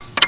BLITZESTAR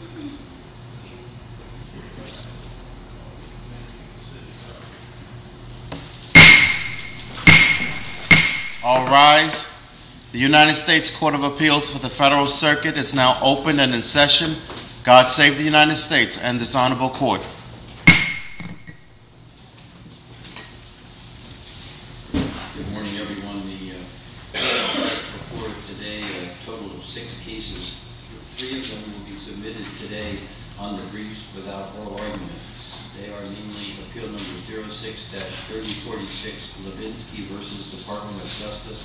NOVOTNY All rise. The United States Court of Appeals for the Federal Circuit is now open and in session. God save the United States and this Honorable Court. Good morning everyone. We have before us today a total of six cases. Three of them will be submitted today on the briefs without oral argument. They are namely Appeal No. 06-3046 Levinsky v. Department of Justice,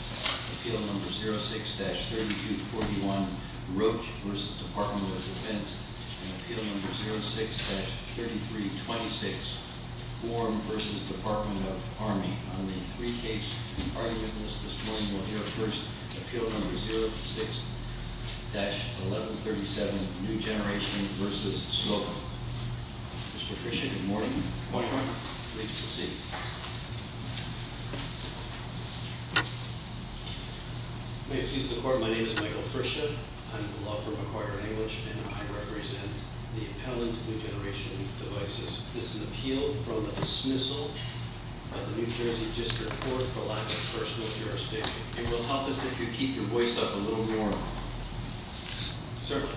Appeal No. 06-3241 Roach v. Department of Defense, and Appeal No. 06-3326 Warren v. Department of Army. On the three cases and arguments this morning, we'll hear first Appeal No. 06-1137 New Generation v. Sloan. Mr. Frischia, good morning. Good morning. Please proceed. May it please the Court, my name is Michael Frischia. I'm a law firm acquirer in English and I represent the appellant New Generation devices. This is an appeal from a dismissal by the New Jersey District Court for lack of personal jurisdiction. It will help us if you keep your voice up a little more. Certainly.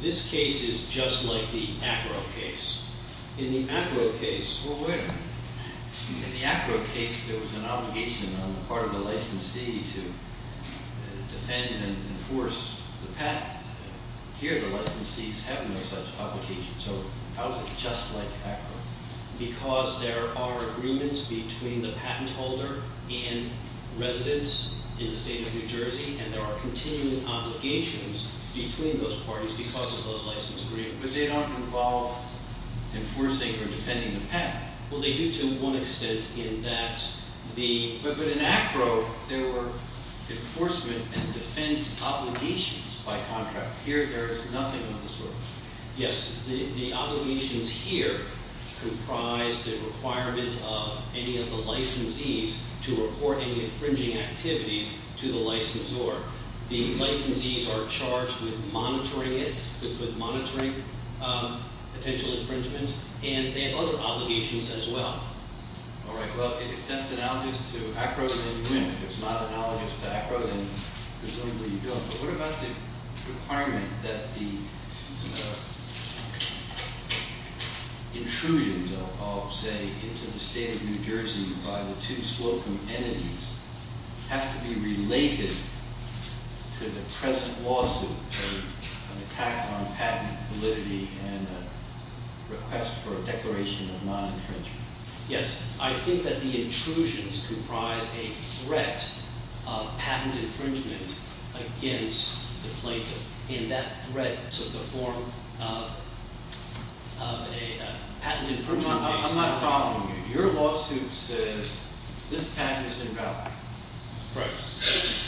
This case is just like the Acro case. In the Acro case, in the Acro case there was an obligation on the part of the licensee to defend and enforce the patent. Here the licensees have no such obligation. So how is it just like Acro? Because there are agreements between the patent holder and residents in the state of New Jersey and there are continuing obligations between those parties because of those license agreements. But they don't involve enforcing or defending the patent. Well, they do to one extent in that the, but in Acro there were enforcement and defense obligations by contract. Here there is nothing of the sort. Yes, the obligations here comprise the requirement of any of the licensees to report any infringing activities to the licensor. The licensees are charged with monitoring it, with monitoring potential infringement and they have other obligations as well. All right, well if that's analogous to Acro then you win. If it's not analogous to Acro then presumably you don't. But what about the requirement that the intrusions of say into the state of New Jersey by the two spoken entities have to be related to the present lawsuit, an attack on patent validity and a request for a declaration of infringement against the plaintiff in that threat to the form of a patent infringement case? I'm not following you. Your lawsuit says this patent is invalid. Right.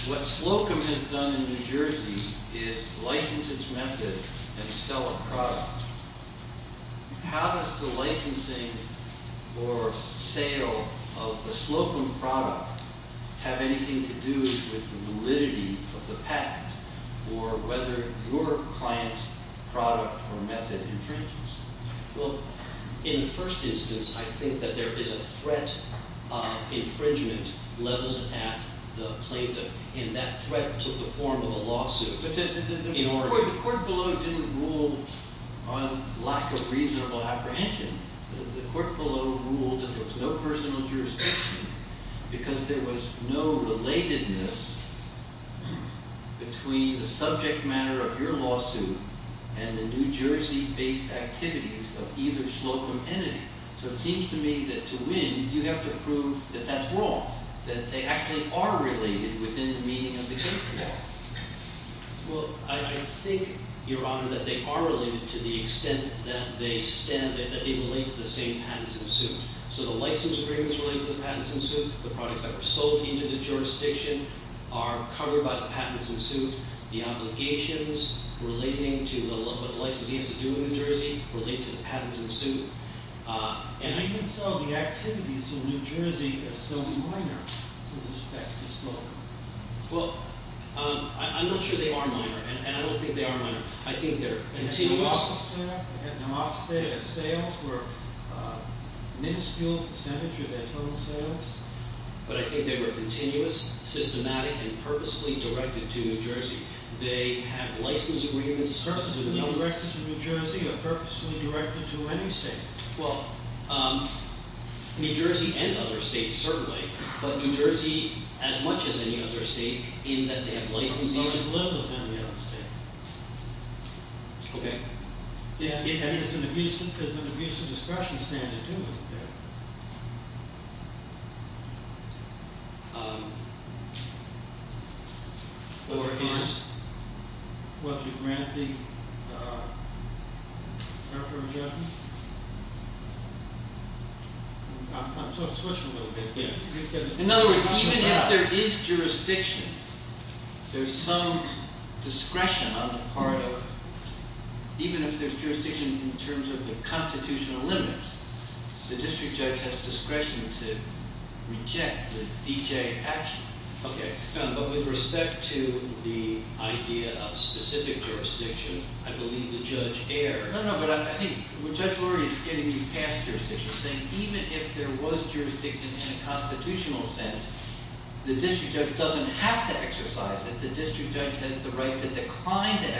What Slocum has done in New Jersey is license its method and sell a product. How does the licensing or sale of the validity of the patent or whether your client's product or method infringes? Well in the first instance I think that there is a threat of infringement leveled at the plaintiff in that threat to the form of a lawsuit. But the court below didn't rule on lack of reasonable apprehension. The court below ruled that there was no personal jurisdiction because there was no relatedness between the subject matter of your lawsuit and the New Jersey based activities of either Slocum entity. So it seems to me that to win you have to prove that that's wrong. That they actually are related within the meaning of the case law. Well I think your honor that they are related to the extent that they stand that they relate to the same patents in suit. So the jurisdiction are covered by the patents in suit. The obligations relating to what the licensee has to do in New Jersey relate to the patents in suit. And you can sell the activities in New Jersey as so minor with respect to Slocum. Well I'm not sure they are minor and I don't think they are minor. I think they're continuous. The sales were minuscule percentage of their total sales. But I think they were continuous, systematic, and purposely directed to New Jersey. They have license agreements. Purposely directed to New Jersey or purposely directed to any state? Well New Jersey and other states certainly. But New Jersey as much as any other state in that they have license agreements. As little as any other state. Okay. Is an abusive discretion standard too? Whether you grant the character adjustment? I'm sort of switching a little bit here. In other words, even if there is jurisdiction, there's some discretion on the part of, even if there's jurisdiction in terms of the constitutional limits, the district judge has discretion to reject the D.J. action. Okay. But with respect to the idea of specific jurisdiction, I believe the judge erred. No, no. But I think Judge Lurie is getting you past jurisdiction. Saying even if there was jurisdiction in a constitutional sense, the district judge doesn't have to exercise it. The district judge has the right to decline to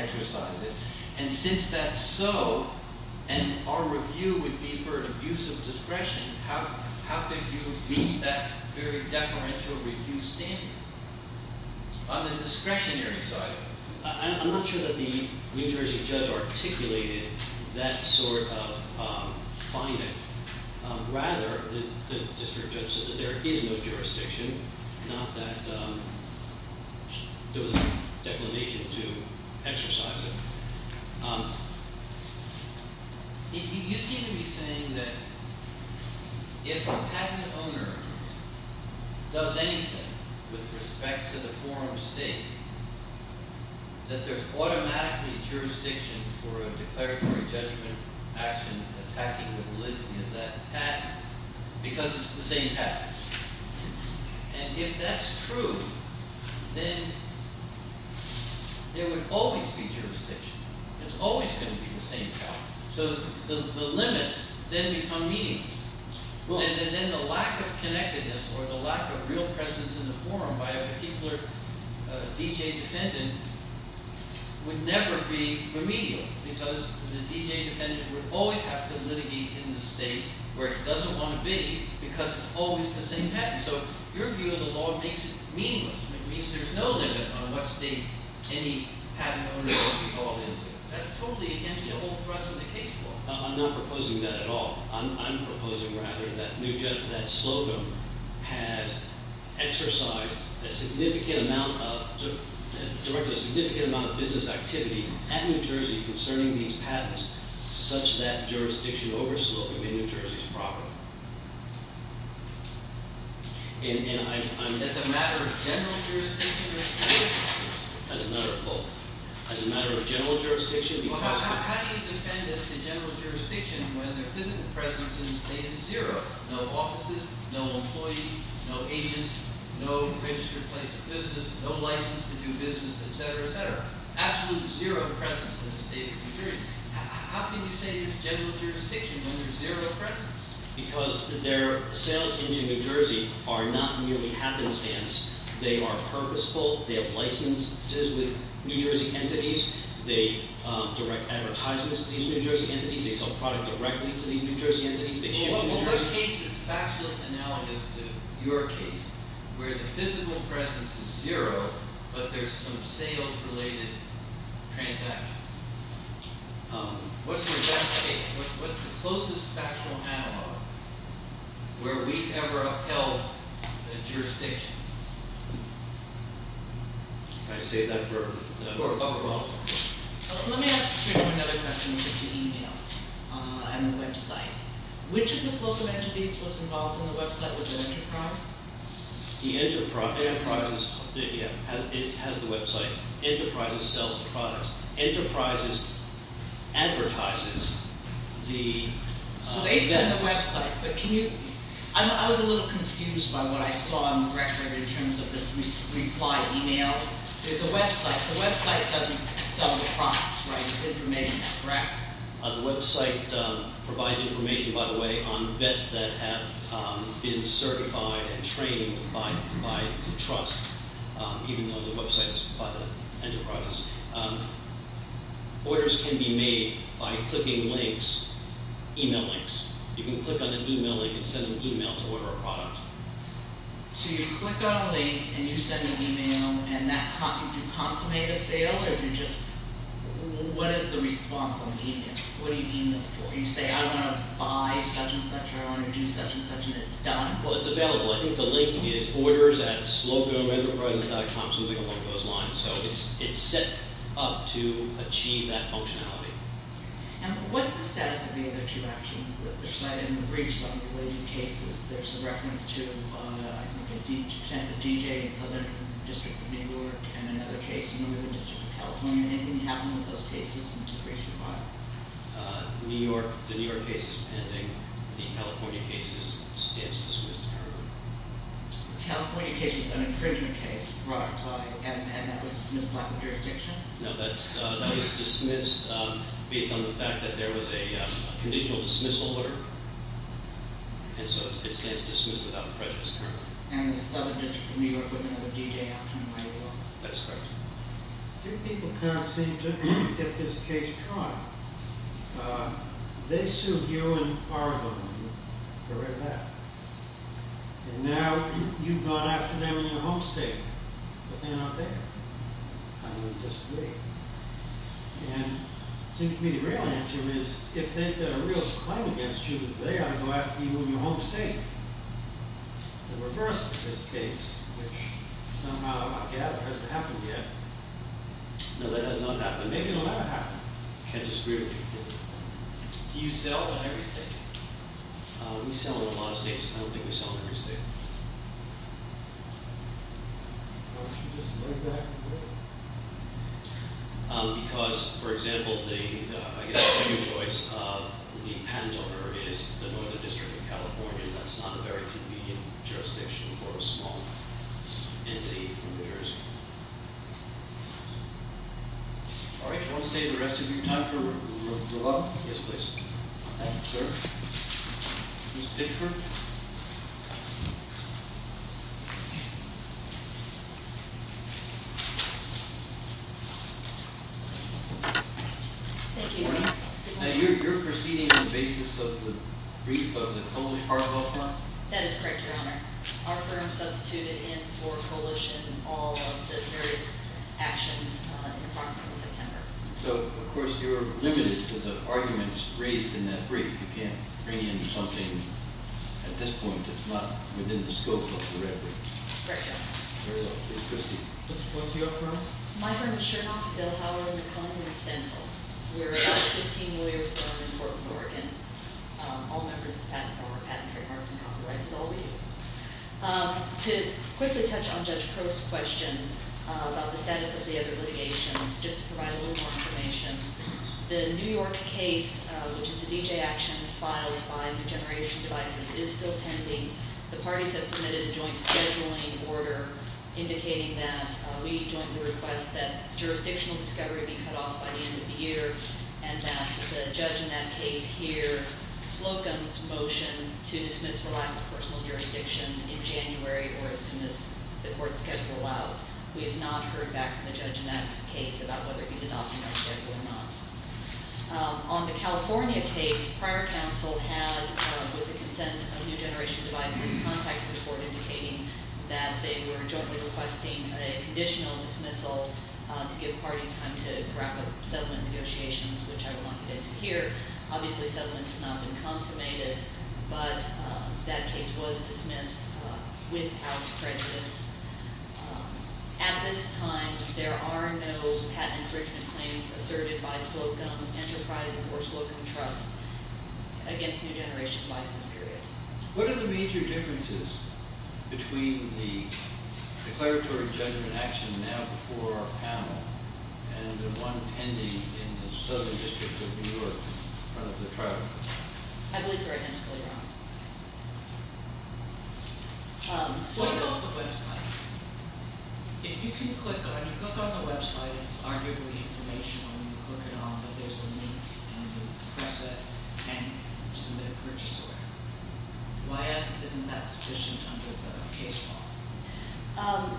use of discretion. How could you reach that very deferential review standard? On the discretionary side. I'm not sure that the New Jersey judge articulated that sort of finding. Rather, the district judge said that there is no jurisdiction. Not that there was a declination to exercise it. You seem to be saying that if a patent owner does anything with respect to the forum state, that there's automatically jurisdiction for a declaratory judgment action attacking the validity of that patent. Because it's the same patent. And if that's true, then there would always be jurisdiction. It's always going to be the same. So the limits then become meaningless. And then the lack of connectedness or the lack of real presence in the forum by a particular D.J. defendant would never be remedial. Because the D.J. defendant would always have to where he doesn't want to be because it's always the same patent. So your view of the law makes it meaningless. It means there's no limit on what state any patent owner would be called into. That's totally against the whole thrust of the case law. I'm not proposing that at all. I'm proposing rather that that slogan has exercised a significant amount of business activity at New Jersey's property. As a matter of general jurisdiction? How do you defend as a general jurisdiction when the physical presence in the state is zero? No offices, no employees, no agents, no registered places of business, no license to do business, et cetera, et cetera. Absolute zero presence in the state of New Jersey. How can you say there's general jurisdiction when there's zero presence? Because their sales into New Jersey are not merely happenstance. They are purposeful. They have licenses with New Jersey entities. They direct advertisements to these New Jersey entities. They sell product directly to these New Jersey entities. Well, her case is factual analogous to your case where the physical presence is zero, but there's some sales-related transactions. What's your best case? What's the closest factual analog where we've ever upheld a jurisdiction? Can I save that for? Let me ask you another question about the email and the website. Which of the has the website? Enterprises sells the products. Enterprises advertises the So based on the website, but can you, I was a little confused by what I saw on the record in terms of this reply email. There's a website. The website doesn't sell the products, right? It's information, correct? The website provides information, by the way, on vets that have been certified and trained by the trust, even though the website is by the enterprises. Orders can be made by clicking links, email links. You can click on an email link and send an email to order a product. So you click on a link and you send an email and that, do you consummate a sale or do you just, what is the response on the email? What do you email for? You say I want to buy such and such and it's done. Well, it's available. I think the link is orders at sloganenterprises.com, something along those lines. So it's, it's set up to achieve that functionality. And what's the status of the other two actions that are cited in the briefs on the related cases? There's a reference to I think a DJ in Southern District of New York and another case in Northern District of California. Anything happen with those cases since the briefs were filed? Uh, New York, the New York case is pending. The California case is, stands dismissed currently. California case was an infringement case, right? And that was dismissed by the jurisdiction? No, that's, that was dismissed based on the fact that there was a conditional dismissal order. And so it stands dismissed without prejudice currently. And the Southern District of New York might as well. Do people kind of seem to, if this case tried, uh, they sued you and Argonne for that. And now you've gone after them in your home state, but they're not there. I would disagree. And it seems to me the real answer is if they've got a real claim against you that they are going to have you in your home state. The reverse of this case, which somehow I gather hasn't happened yet. No, that has not happened. Maybe it'll never happen. Can't disagree with you. Do you sell in every state? We sell in a lot of states. I don't think we sell in every state. Why don't you just lay back a little? Because, for example, the, I guess, your choice of the patent owner is the Northern District of California. That's not a very convenient jurisdiction for a small entity from New Jersey. All right, I want to say the rest of you, time for roll call. Yes, please. Thank you, sir. Ms. Pitchford? Thank you. Now, you're proceeding on the basis of the brief of the Coalish Cargill firm? That is correct, your honor. Our firm substituted in for Coalish in all of the various actions in that brief. You can't bring in something at this point that's not within the scope of the red brief. My firm is Chernoff, Dilhower, McClellan, and Stencil. We're a 15-lawyer firm in Portland, Oregon. All members of the patent firm are patent trademarks and copyrights. It's all we do. To quickly touch on Judge Crow's question about the status of the other litigations, just to reiterate that the D.J. action filed by New Generation Devices is still pending. The parties have submitted a joint scheduling order indicating that we jointly request that jurisdictional discovery be cut off by the end of the year and that the judge in that case hear Slocum's motion to dismiss for lack of personal jurisdiction in January or as soon as the court schedule allows. We have not heard back from the judge in that case about whether he's adopting our schedule or not. On the California case, prior counsel had with the consent of New Generation Devices contact the court indicating that they were jointly requesting a conditional dismissal to give parties time to wrap up settlement negotiations, which I will not get to here. Obviously, settlement has not been consummated, but that case was dismissed without prejudice. At this time, there are no patent infringement claims asserted by Slocum Enterprises or Slocum Trust against New Generation Devices, period. What are the major differences between the declaratory judgment action now before our panel and the one pending in the Southern District of New York in front of the trial? I believe the right hand is clearly on. What about the website? If you can click on the website, it's arguably information when you click it on, but there's a link and you press it and submit a purchase order. Why isn't that sufficient under the case law?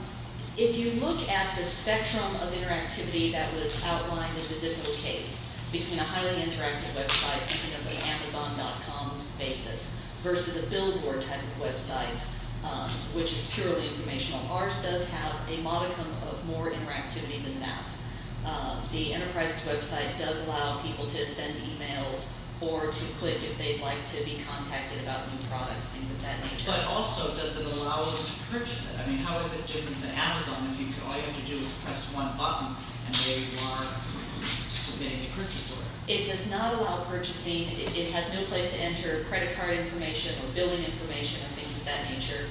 If you look at the spectrum of interactivity that was outlined in the Zippo case between a highly interactive website, something of an Amazon.com basis, versus a billboard type of website, which is purely informational, ours does have a modicum of more interactivity than that. The enterprise's website does allow people to send emails or to click if they'd like to be contacted about new products, things of that nature. But also, does it allow us to purchase it? I mean, how is it different than Amazon? All you have to do is press one button and they will submit a purchase order. It does not allow purchasing. It has no place to enter credit card information or billing information or things of that nature.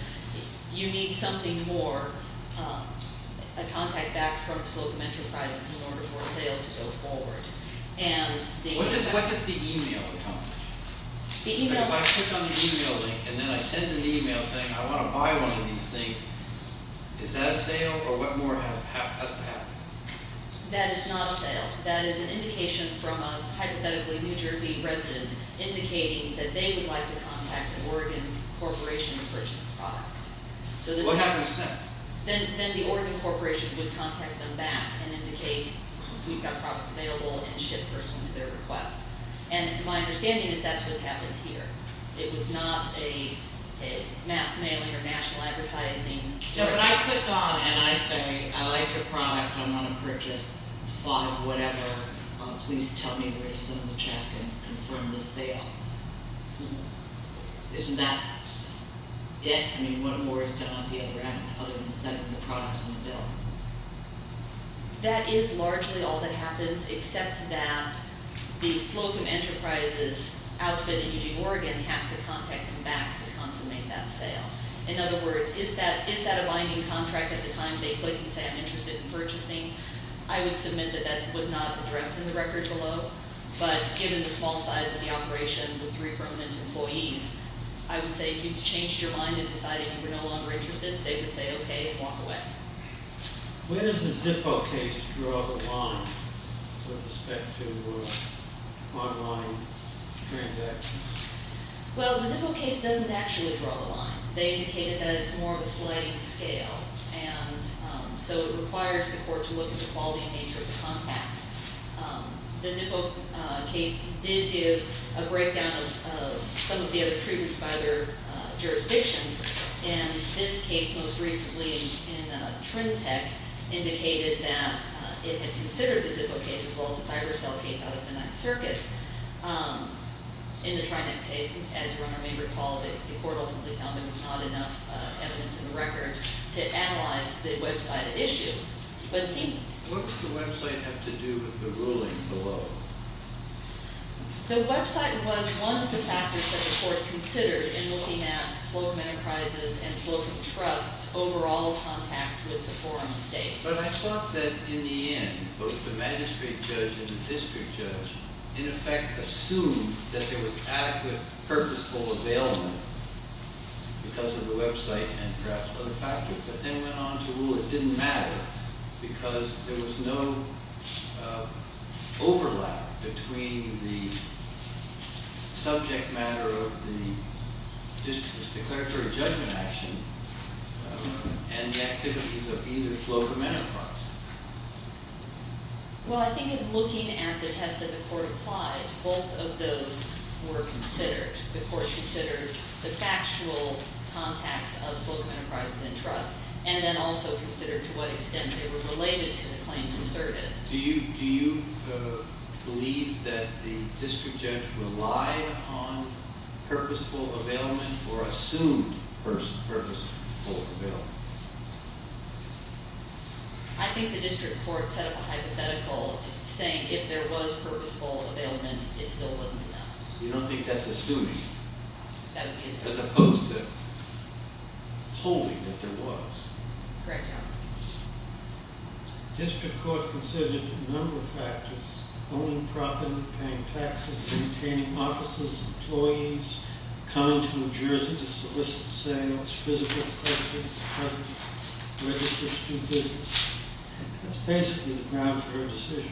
You need something more, a contact back from its local enterprises in order for a sale to go forward. What does the email accomplish? If I click on the email link and then I send an email saying I want to buy one of these things, is that a sale or what more has to happen? That is not a sale. That is an indication from a, hypothetically, New Jersey resident indicating that they would like to contact an Oregon corporation to purchase the product. What happens then? Then the Oregon corporation would contact them back and indicate, we've got products available, and ship those to their request. And my understanding is that's what happened here. It was not a mass mailing or national advertising. When I click on and I say, I like your product, I want to purchase five whatever, please tell me where to send the check and confirm the sale. Isn't that it? I mean, what more is done on the other end other than sending the products on the bill? That is largely all that happens except that the Slocum Enterprises outfit in Eugene, Oregon has to contact them back to consummate that sale. In other words, is that a binding contract at the time they click and say I'm interested in purchasing? I would submit that that was not addressed in the record below, but given the small size of the operation with three permanent employees, I would say if you changed your mind and decided you were no longer interested, they would say, okay, walk away. Where does the Zippo case draw the line with respect to online transactions? Well, the Zippo case doesn't actually draw the line. They indicated that it's more of a sliding scale. And so it requires the court to look at the quality and nature of the contacts. The Zippo case did give a breakdown of some of the other treatments by their jurisdictions. And this case most recently in Trimtech indicated that it had considered the Zippo case as well as the cyber cell case out of the Ninth Circuit. In the Trinet case, as you may recall, the court ultimately found there was not enough evidence in the record to analyze the website issue. What does the website have to do with the ruling below? The website was one of the factors that the court considered slogan enterprises and slogan trusts overall contacts with the forum states. But I thought that in the end, both the magistrate judge and the district judge in effect assumed that there was adequate purposeful availment because of the website and perhaps other factors, but then went on to rule it didn't matter because there was no overlap between the subject matter of the district's declaratory judgment action and the activities of either slogan enterprise. Well, I think in looking at the test that the court applied, both of those were considered. The court considered the factual contacts of slogan enterprises and trust and then also considered to what extent they were related to the claims asserted. Do you believe that the district judge relied on purposeful availment or assumed purposeful availment? I think the district court set up a hypothetical saying if there was purposeful availment, it still wasn't enough. You don't think that's assuming? That would be assuming. As opposed to holding that there was. District court considered a number of factors, owning property, paying taxes, maintaining offices, employees, coming to New Jersey to solicit sales, physical presence, registration. That's basically the ground for a decision.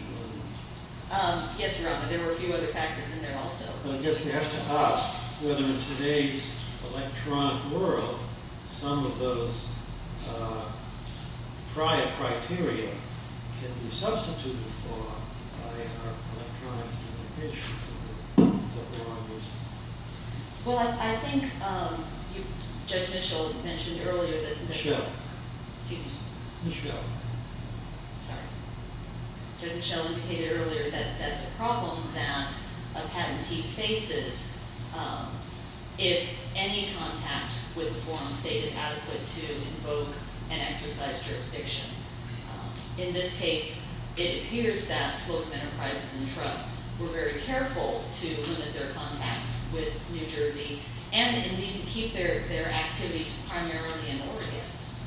Yes, your honor. There were a few other factors in there also. I guess you have to ask whether in today's electronic world, some of those prior criteria can be substituted for by our electronic limitations. Well, I think Judge Mitchell mentioned earlier that the problem that a patentee faces if any contact with a form of state is adequate to invoke and exercise jurisdiction. In this case, it appears that slogan enterprises and trust were very careful to limit their contacts with New Jersey and indeed to keep their activities primarily in Oregon,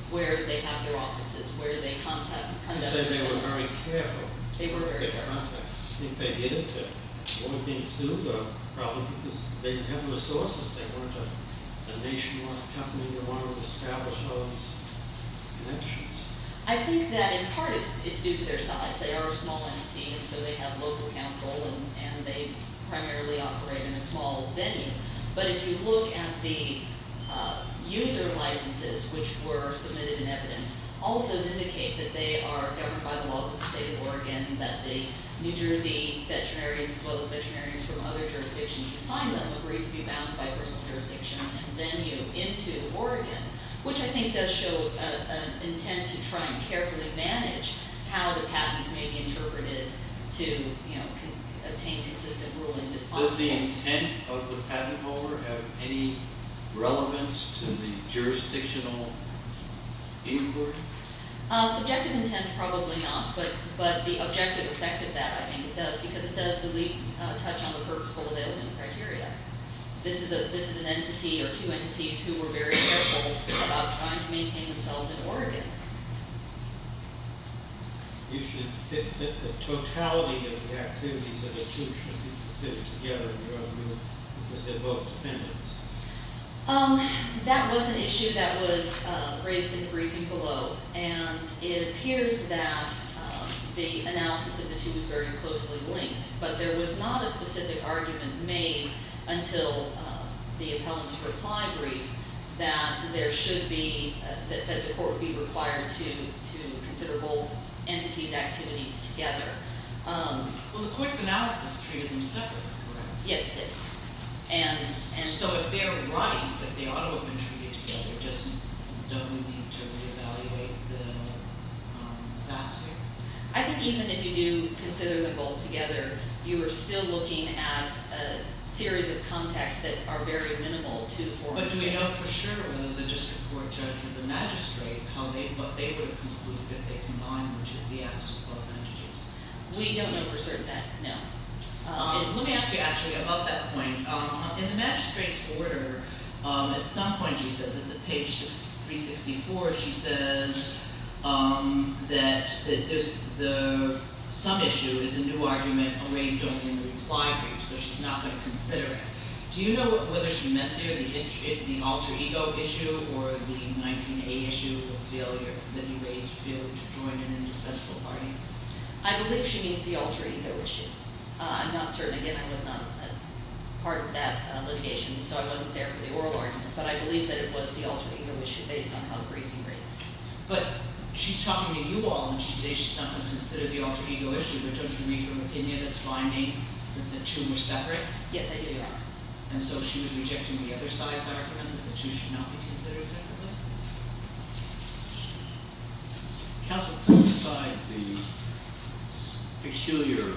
where they have their offices, where they conduct themselves. You said they were very careful. They were very careful. I think they did it to one thing or another, probably because they didn't have the resources. They weren't a nationwide company. They wanted to establish those connections. I think that in part it's due to their size. They are a small entity, and so they have local counsel, and they primarily operate in a small venue. But if you look at the user licenses which were submitted in evidence, all of those indicate that they are governed by the laws of the state of Oregon, that the New Jersey veterinarians as well as veterinarians from other jurisdictions who signed them agreed to be bound by personal jurisdiction and venue into Oregon, which I think does show an intent to try and carefully manage how the patent may be interpreted to obtain consistent rulings. Does the intent of the patent holder have any relevance to the jurisdictional inquiry? Subjective intent, probably not, but the objective effect of that, I think it does, because it does touch on the purposeful availment criteria. This is an entity or two entities who were very careful about trying to maintain themselves in Oregon. You should think that the totality of the activities of the two should be considered together in your own group, because they're both defendants. That was an issue that was raised in the briefing below, and it appears that the analysis of the two was very closely linked, but there was not a specific argument made until the appellant's reply brief that there should be, that the court be required to consider both entities' activities together. Well, the Coit's analysis treated them separately, correct? Yes, it did. So if they're right, that they ought to have been treated together, don't we need to re-evaluate the facts here? I think even if you do consider them both together, you are still looking at a series of contexts that are very minimal to the fore. But do we know for sure whether the district court judge or the magistrate, what they would conclude if they combined the two, the acts of both entities? We don't know for certain yet, no. Let me ask you actually about that point. In the magistrate's order, at some point she says, it's at page 364, she says that the sum issue is a new argument raised only in the reply brief, so she's not going to consider it. Do you know whether she meant there the alter ego issue or the 19A issue of failure, the new ways of failure to join an indispensable party? I believe she means the alter ego issue. I'm not certain, again, I was not a part of that litigation, so I wasn't there for the oral argument, but I believe that it was the alter ego issue based on how the briefing reads. But she's talking to you all, and she says she's not going to consider the alter ego issue, but don't you read her opinion as finding that the two were separate? Yes, I do, Your Honor. And so she was rejecting the other side's argument that the two should not be considered separately? Counsel, put aside the peculiar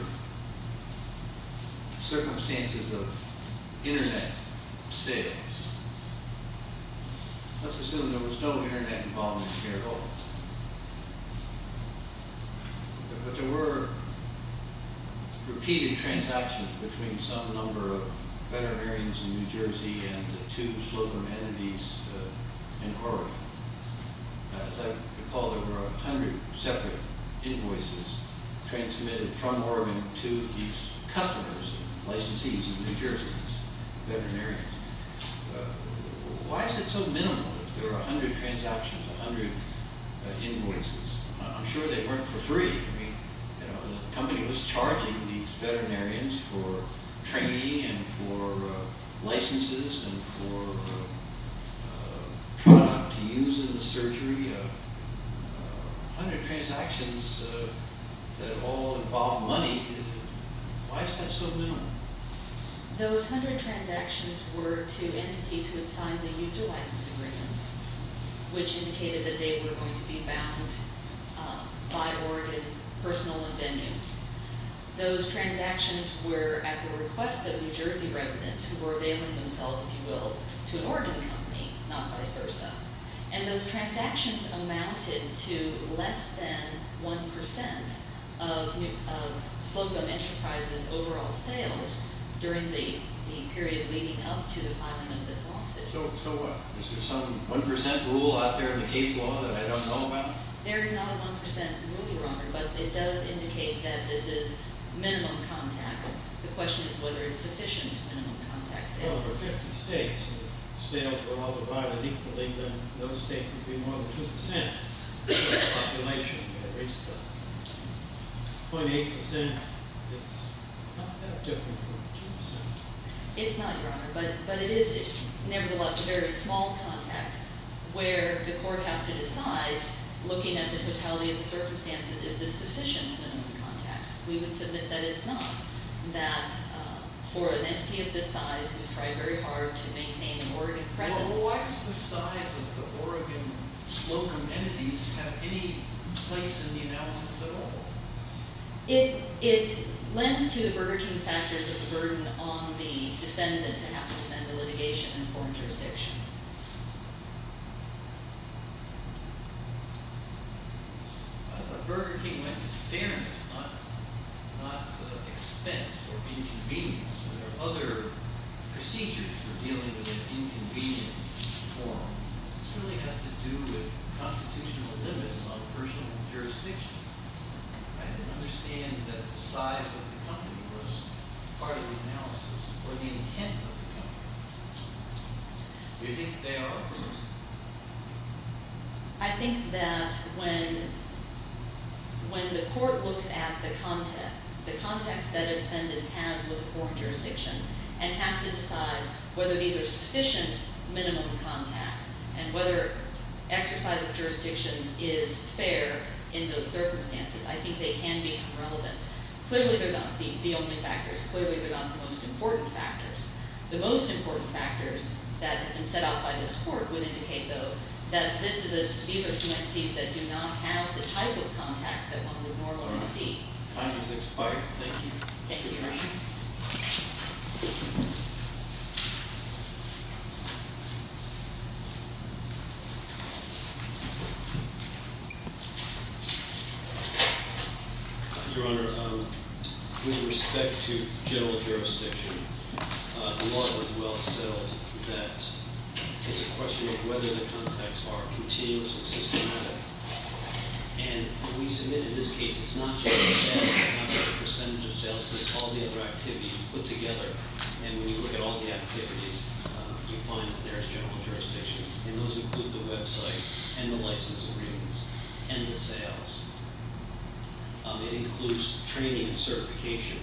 circumstances of internet sales. Let's assume there was no internet involvement here at all. But there were repeated transactions between some number of veterinarians in New Jersey and two slope amenities in Oregon. As I recall, there were a hundred separate invoices transmitted from Oregon to these customers, licensees in New Jersey, veterinarians. Why is it so minimal if there are a hundred transactions, a hundred invoices? I'm sure they weren't for free. I mean, the company was charging these veterinarians for training and for licenses and for product to use in the surgery, a hundred transactions that all involve money. Why is that so minimal? Those hundred transactions were to entities who had signed the user license agreement, which indicated that they were going to be bound by Oregon personal and venue. Those transactions were at the request of New Jersey residents who were availing themselves, if you will, to an Oregon company, not vice versa. And those transactions amounted to less than one percent of Sloco Enterprises' overall sales during the period leading up to the filing of this lawsuit. So what? Is there some one percent rule out there in the case law that I don't know about? There is not a one percent rule, Your Honor, but it does indicate that this is minimum contacts. The question is whether it's sufficient minimum contacts. Well, for 50 states, if sales were all divided equally, then those states would be more than two percent of the population. At least .8 percent is not that different from two percent. It's not, Your Honor, but it is, nevertheless, a very small contact where the court has to decide, looking at the totality of the circumstances, is this sufficient minimum contacts? We would submit that it's not, that for an entity of this size who's tried very hard to maintain an Oregon presence- Well, why does the size of the Oregon Slocom Entities have any place in the analysis at all? It lends to the Burger King factors of the burden on the defendant to have to defend the litigation in foreign jurisdiction. Burger King went to fairness, not expense or inconvenience. There are other procedures for dealing with an inconvenience in the forum. This really has to do with constitutional limits on personal jurisdiction. I didn't understand that the size of the company was part of the analysis or the intent of the company. Do you think they are? I think that when the court looks at the context that a defendant has with foreign jurisdiction and has to decide whether these are sufficient minimum contacts and whether exercise of the court can be relevant. Clearly, they're not the only factors. Clearly, they're not the most important factors. The most important factors that have been set out by this court would indicate, though, that these are some entities that do not have the type of contacts that one would normally see. Time has expired. Thank you. Your Honor, with respect to general jurisdiction, the law is well settled that it's a question of whether the contacts are continuous and systematic. And we submit in this case, it's not just the sales, it's not just the percentage of sales, but it's all the other activities put together. And when you look at all the activities, you find that there is general jurisdiction. And those include the website and the license agreements and the sales. It includes training and certification,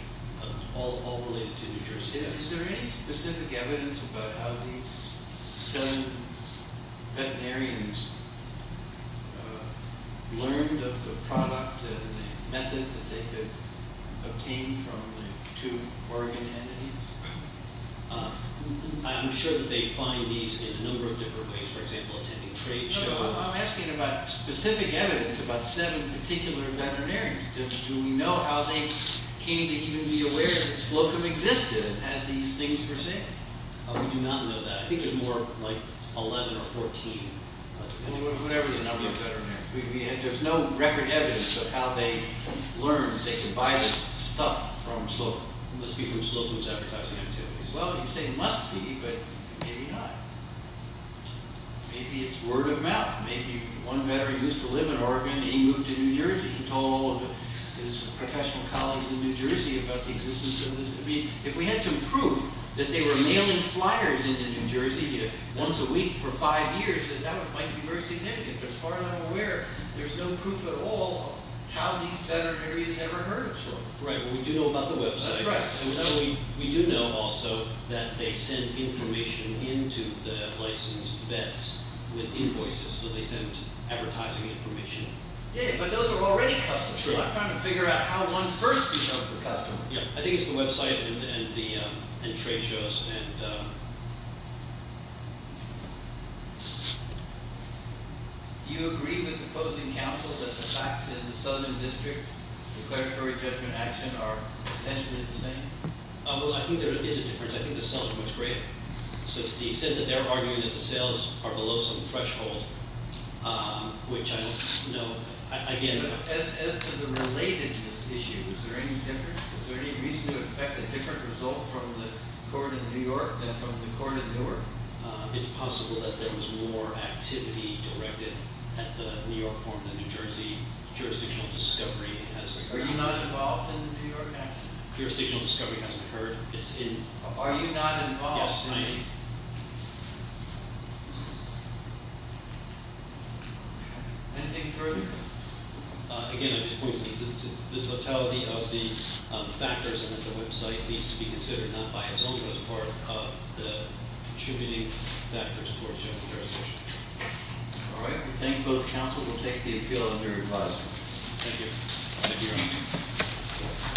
all related to New Jersey. Is there any specific evidence about how these seven veterinarians learned of the product and the method that they could obtain from the two Oregon entities? I'm sure that they find these in a number of different ways. For example, attending trade shows. I'm asking about specific evidence about seven particular veterinarians. Do we know how they came to even be aware that Slocum existed and had these things for sale? We do not know that. I think it's more like 11 or 14. Whatever the number of veterinarians. There's no record evidence of how they learned they could buy the stuff from Slocum. Unless people at Slocum was advertising activities. Well, you say must be, but maybe not. Maybe it's word of mouth. Maybe one veteran used to live in Oregon and he moved to New Jersey. He told his professional colleagues in New Jersey about the existence of the Slocum. If we had some proof that they were mailing flyers into New Jersey once a week for five years, then that might be very significant. As far as I'm aware, there's no proof at all how these veterinarians ever heard of Slocum. Right. Well, we do know about the website. That's right. We do know also that they send information into the licensed vets with invoices. So they send advertising information. Yeah, but those are already customers. I'm trying to figure out how one first becomes a customer. Yeah, I think it's the website and the trade shows. Do you agree with the opposing counsel that the facts in the Southern District, the Well, I think there is a difference. I think the cells are much greater. So to the extent that they're arguing that the sales are below some threshold, which I don't know. As to the relatedness issue, is there any difference? Is there any reason to expect a different result from the court in New York than from the court in Newark? It's possible that there was more activity directed at the New York forum than New Jersey jurisdictional discovery. Were you not involved in the New York action? Jurisdictional discovery hasn't occurred. It's in. Are you not involved? Yes, I am. Anything further? Again, I just point to the totality of these factors and that the website needs to be considered, not by itself, but as part of the contributing factors towards jurisdiction. All right. We thank both counsel. We'll take the appeal on your advisory. Thank you.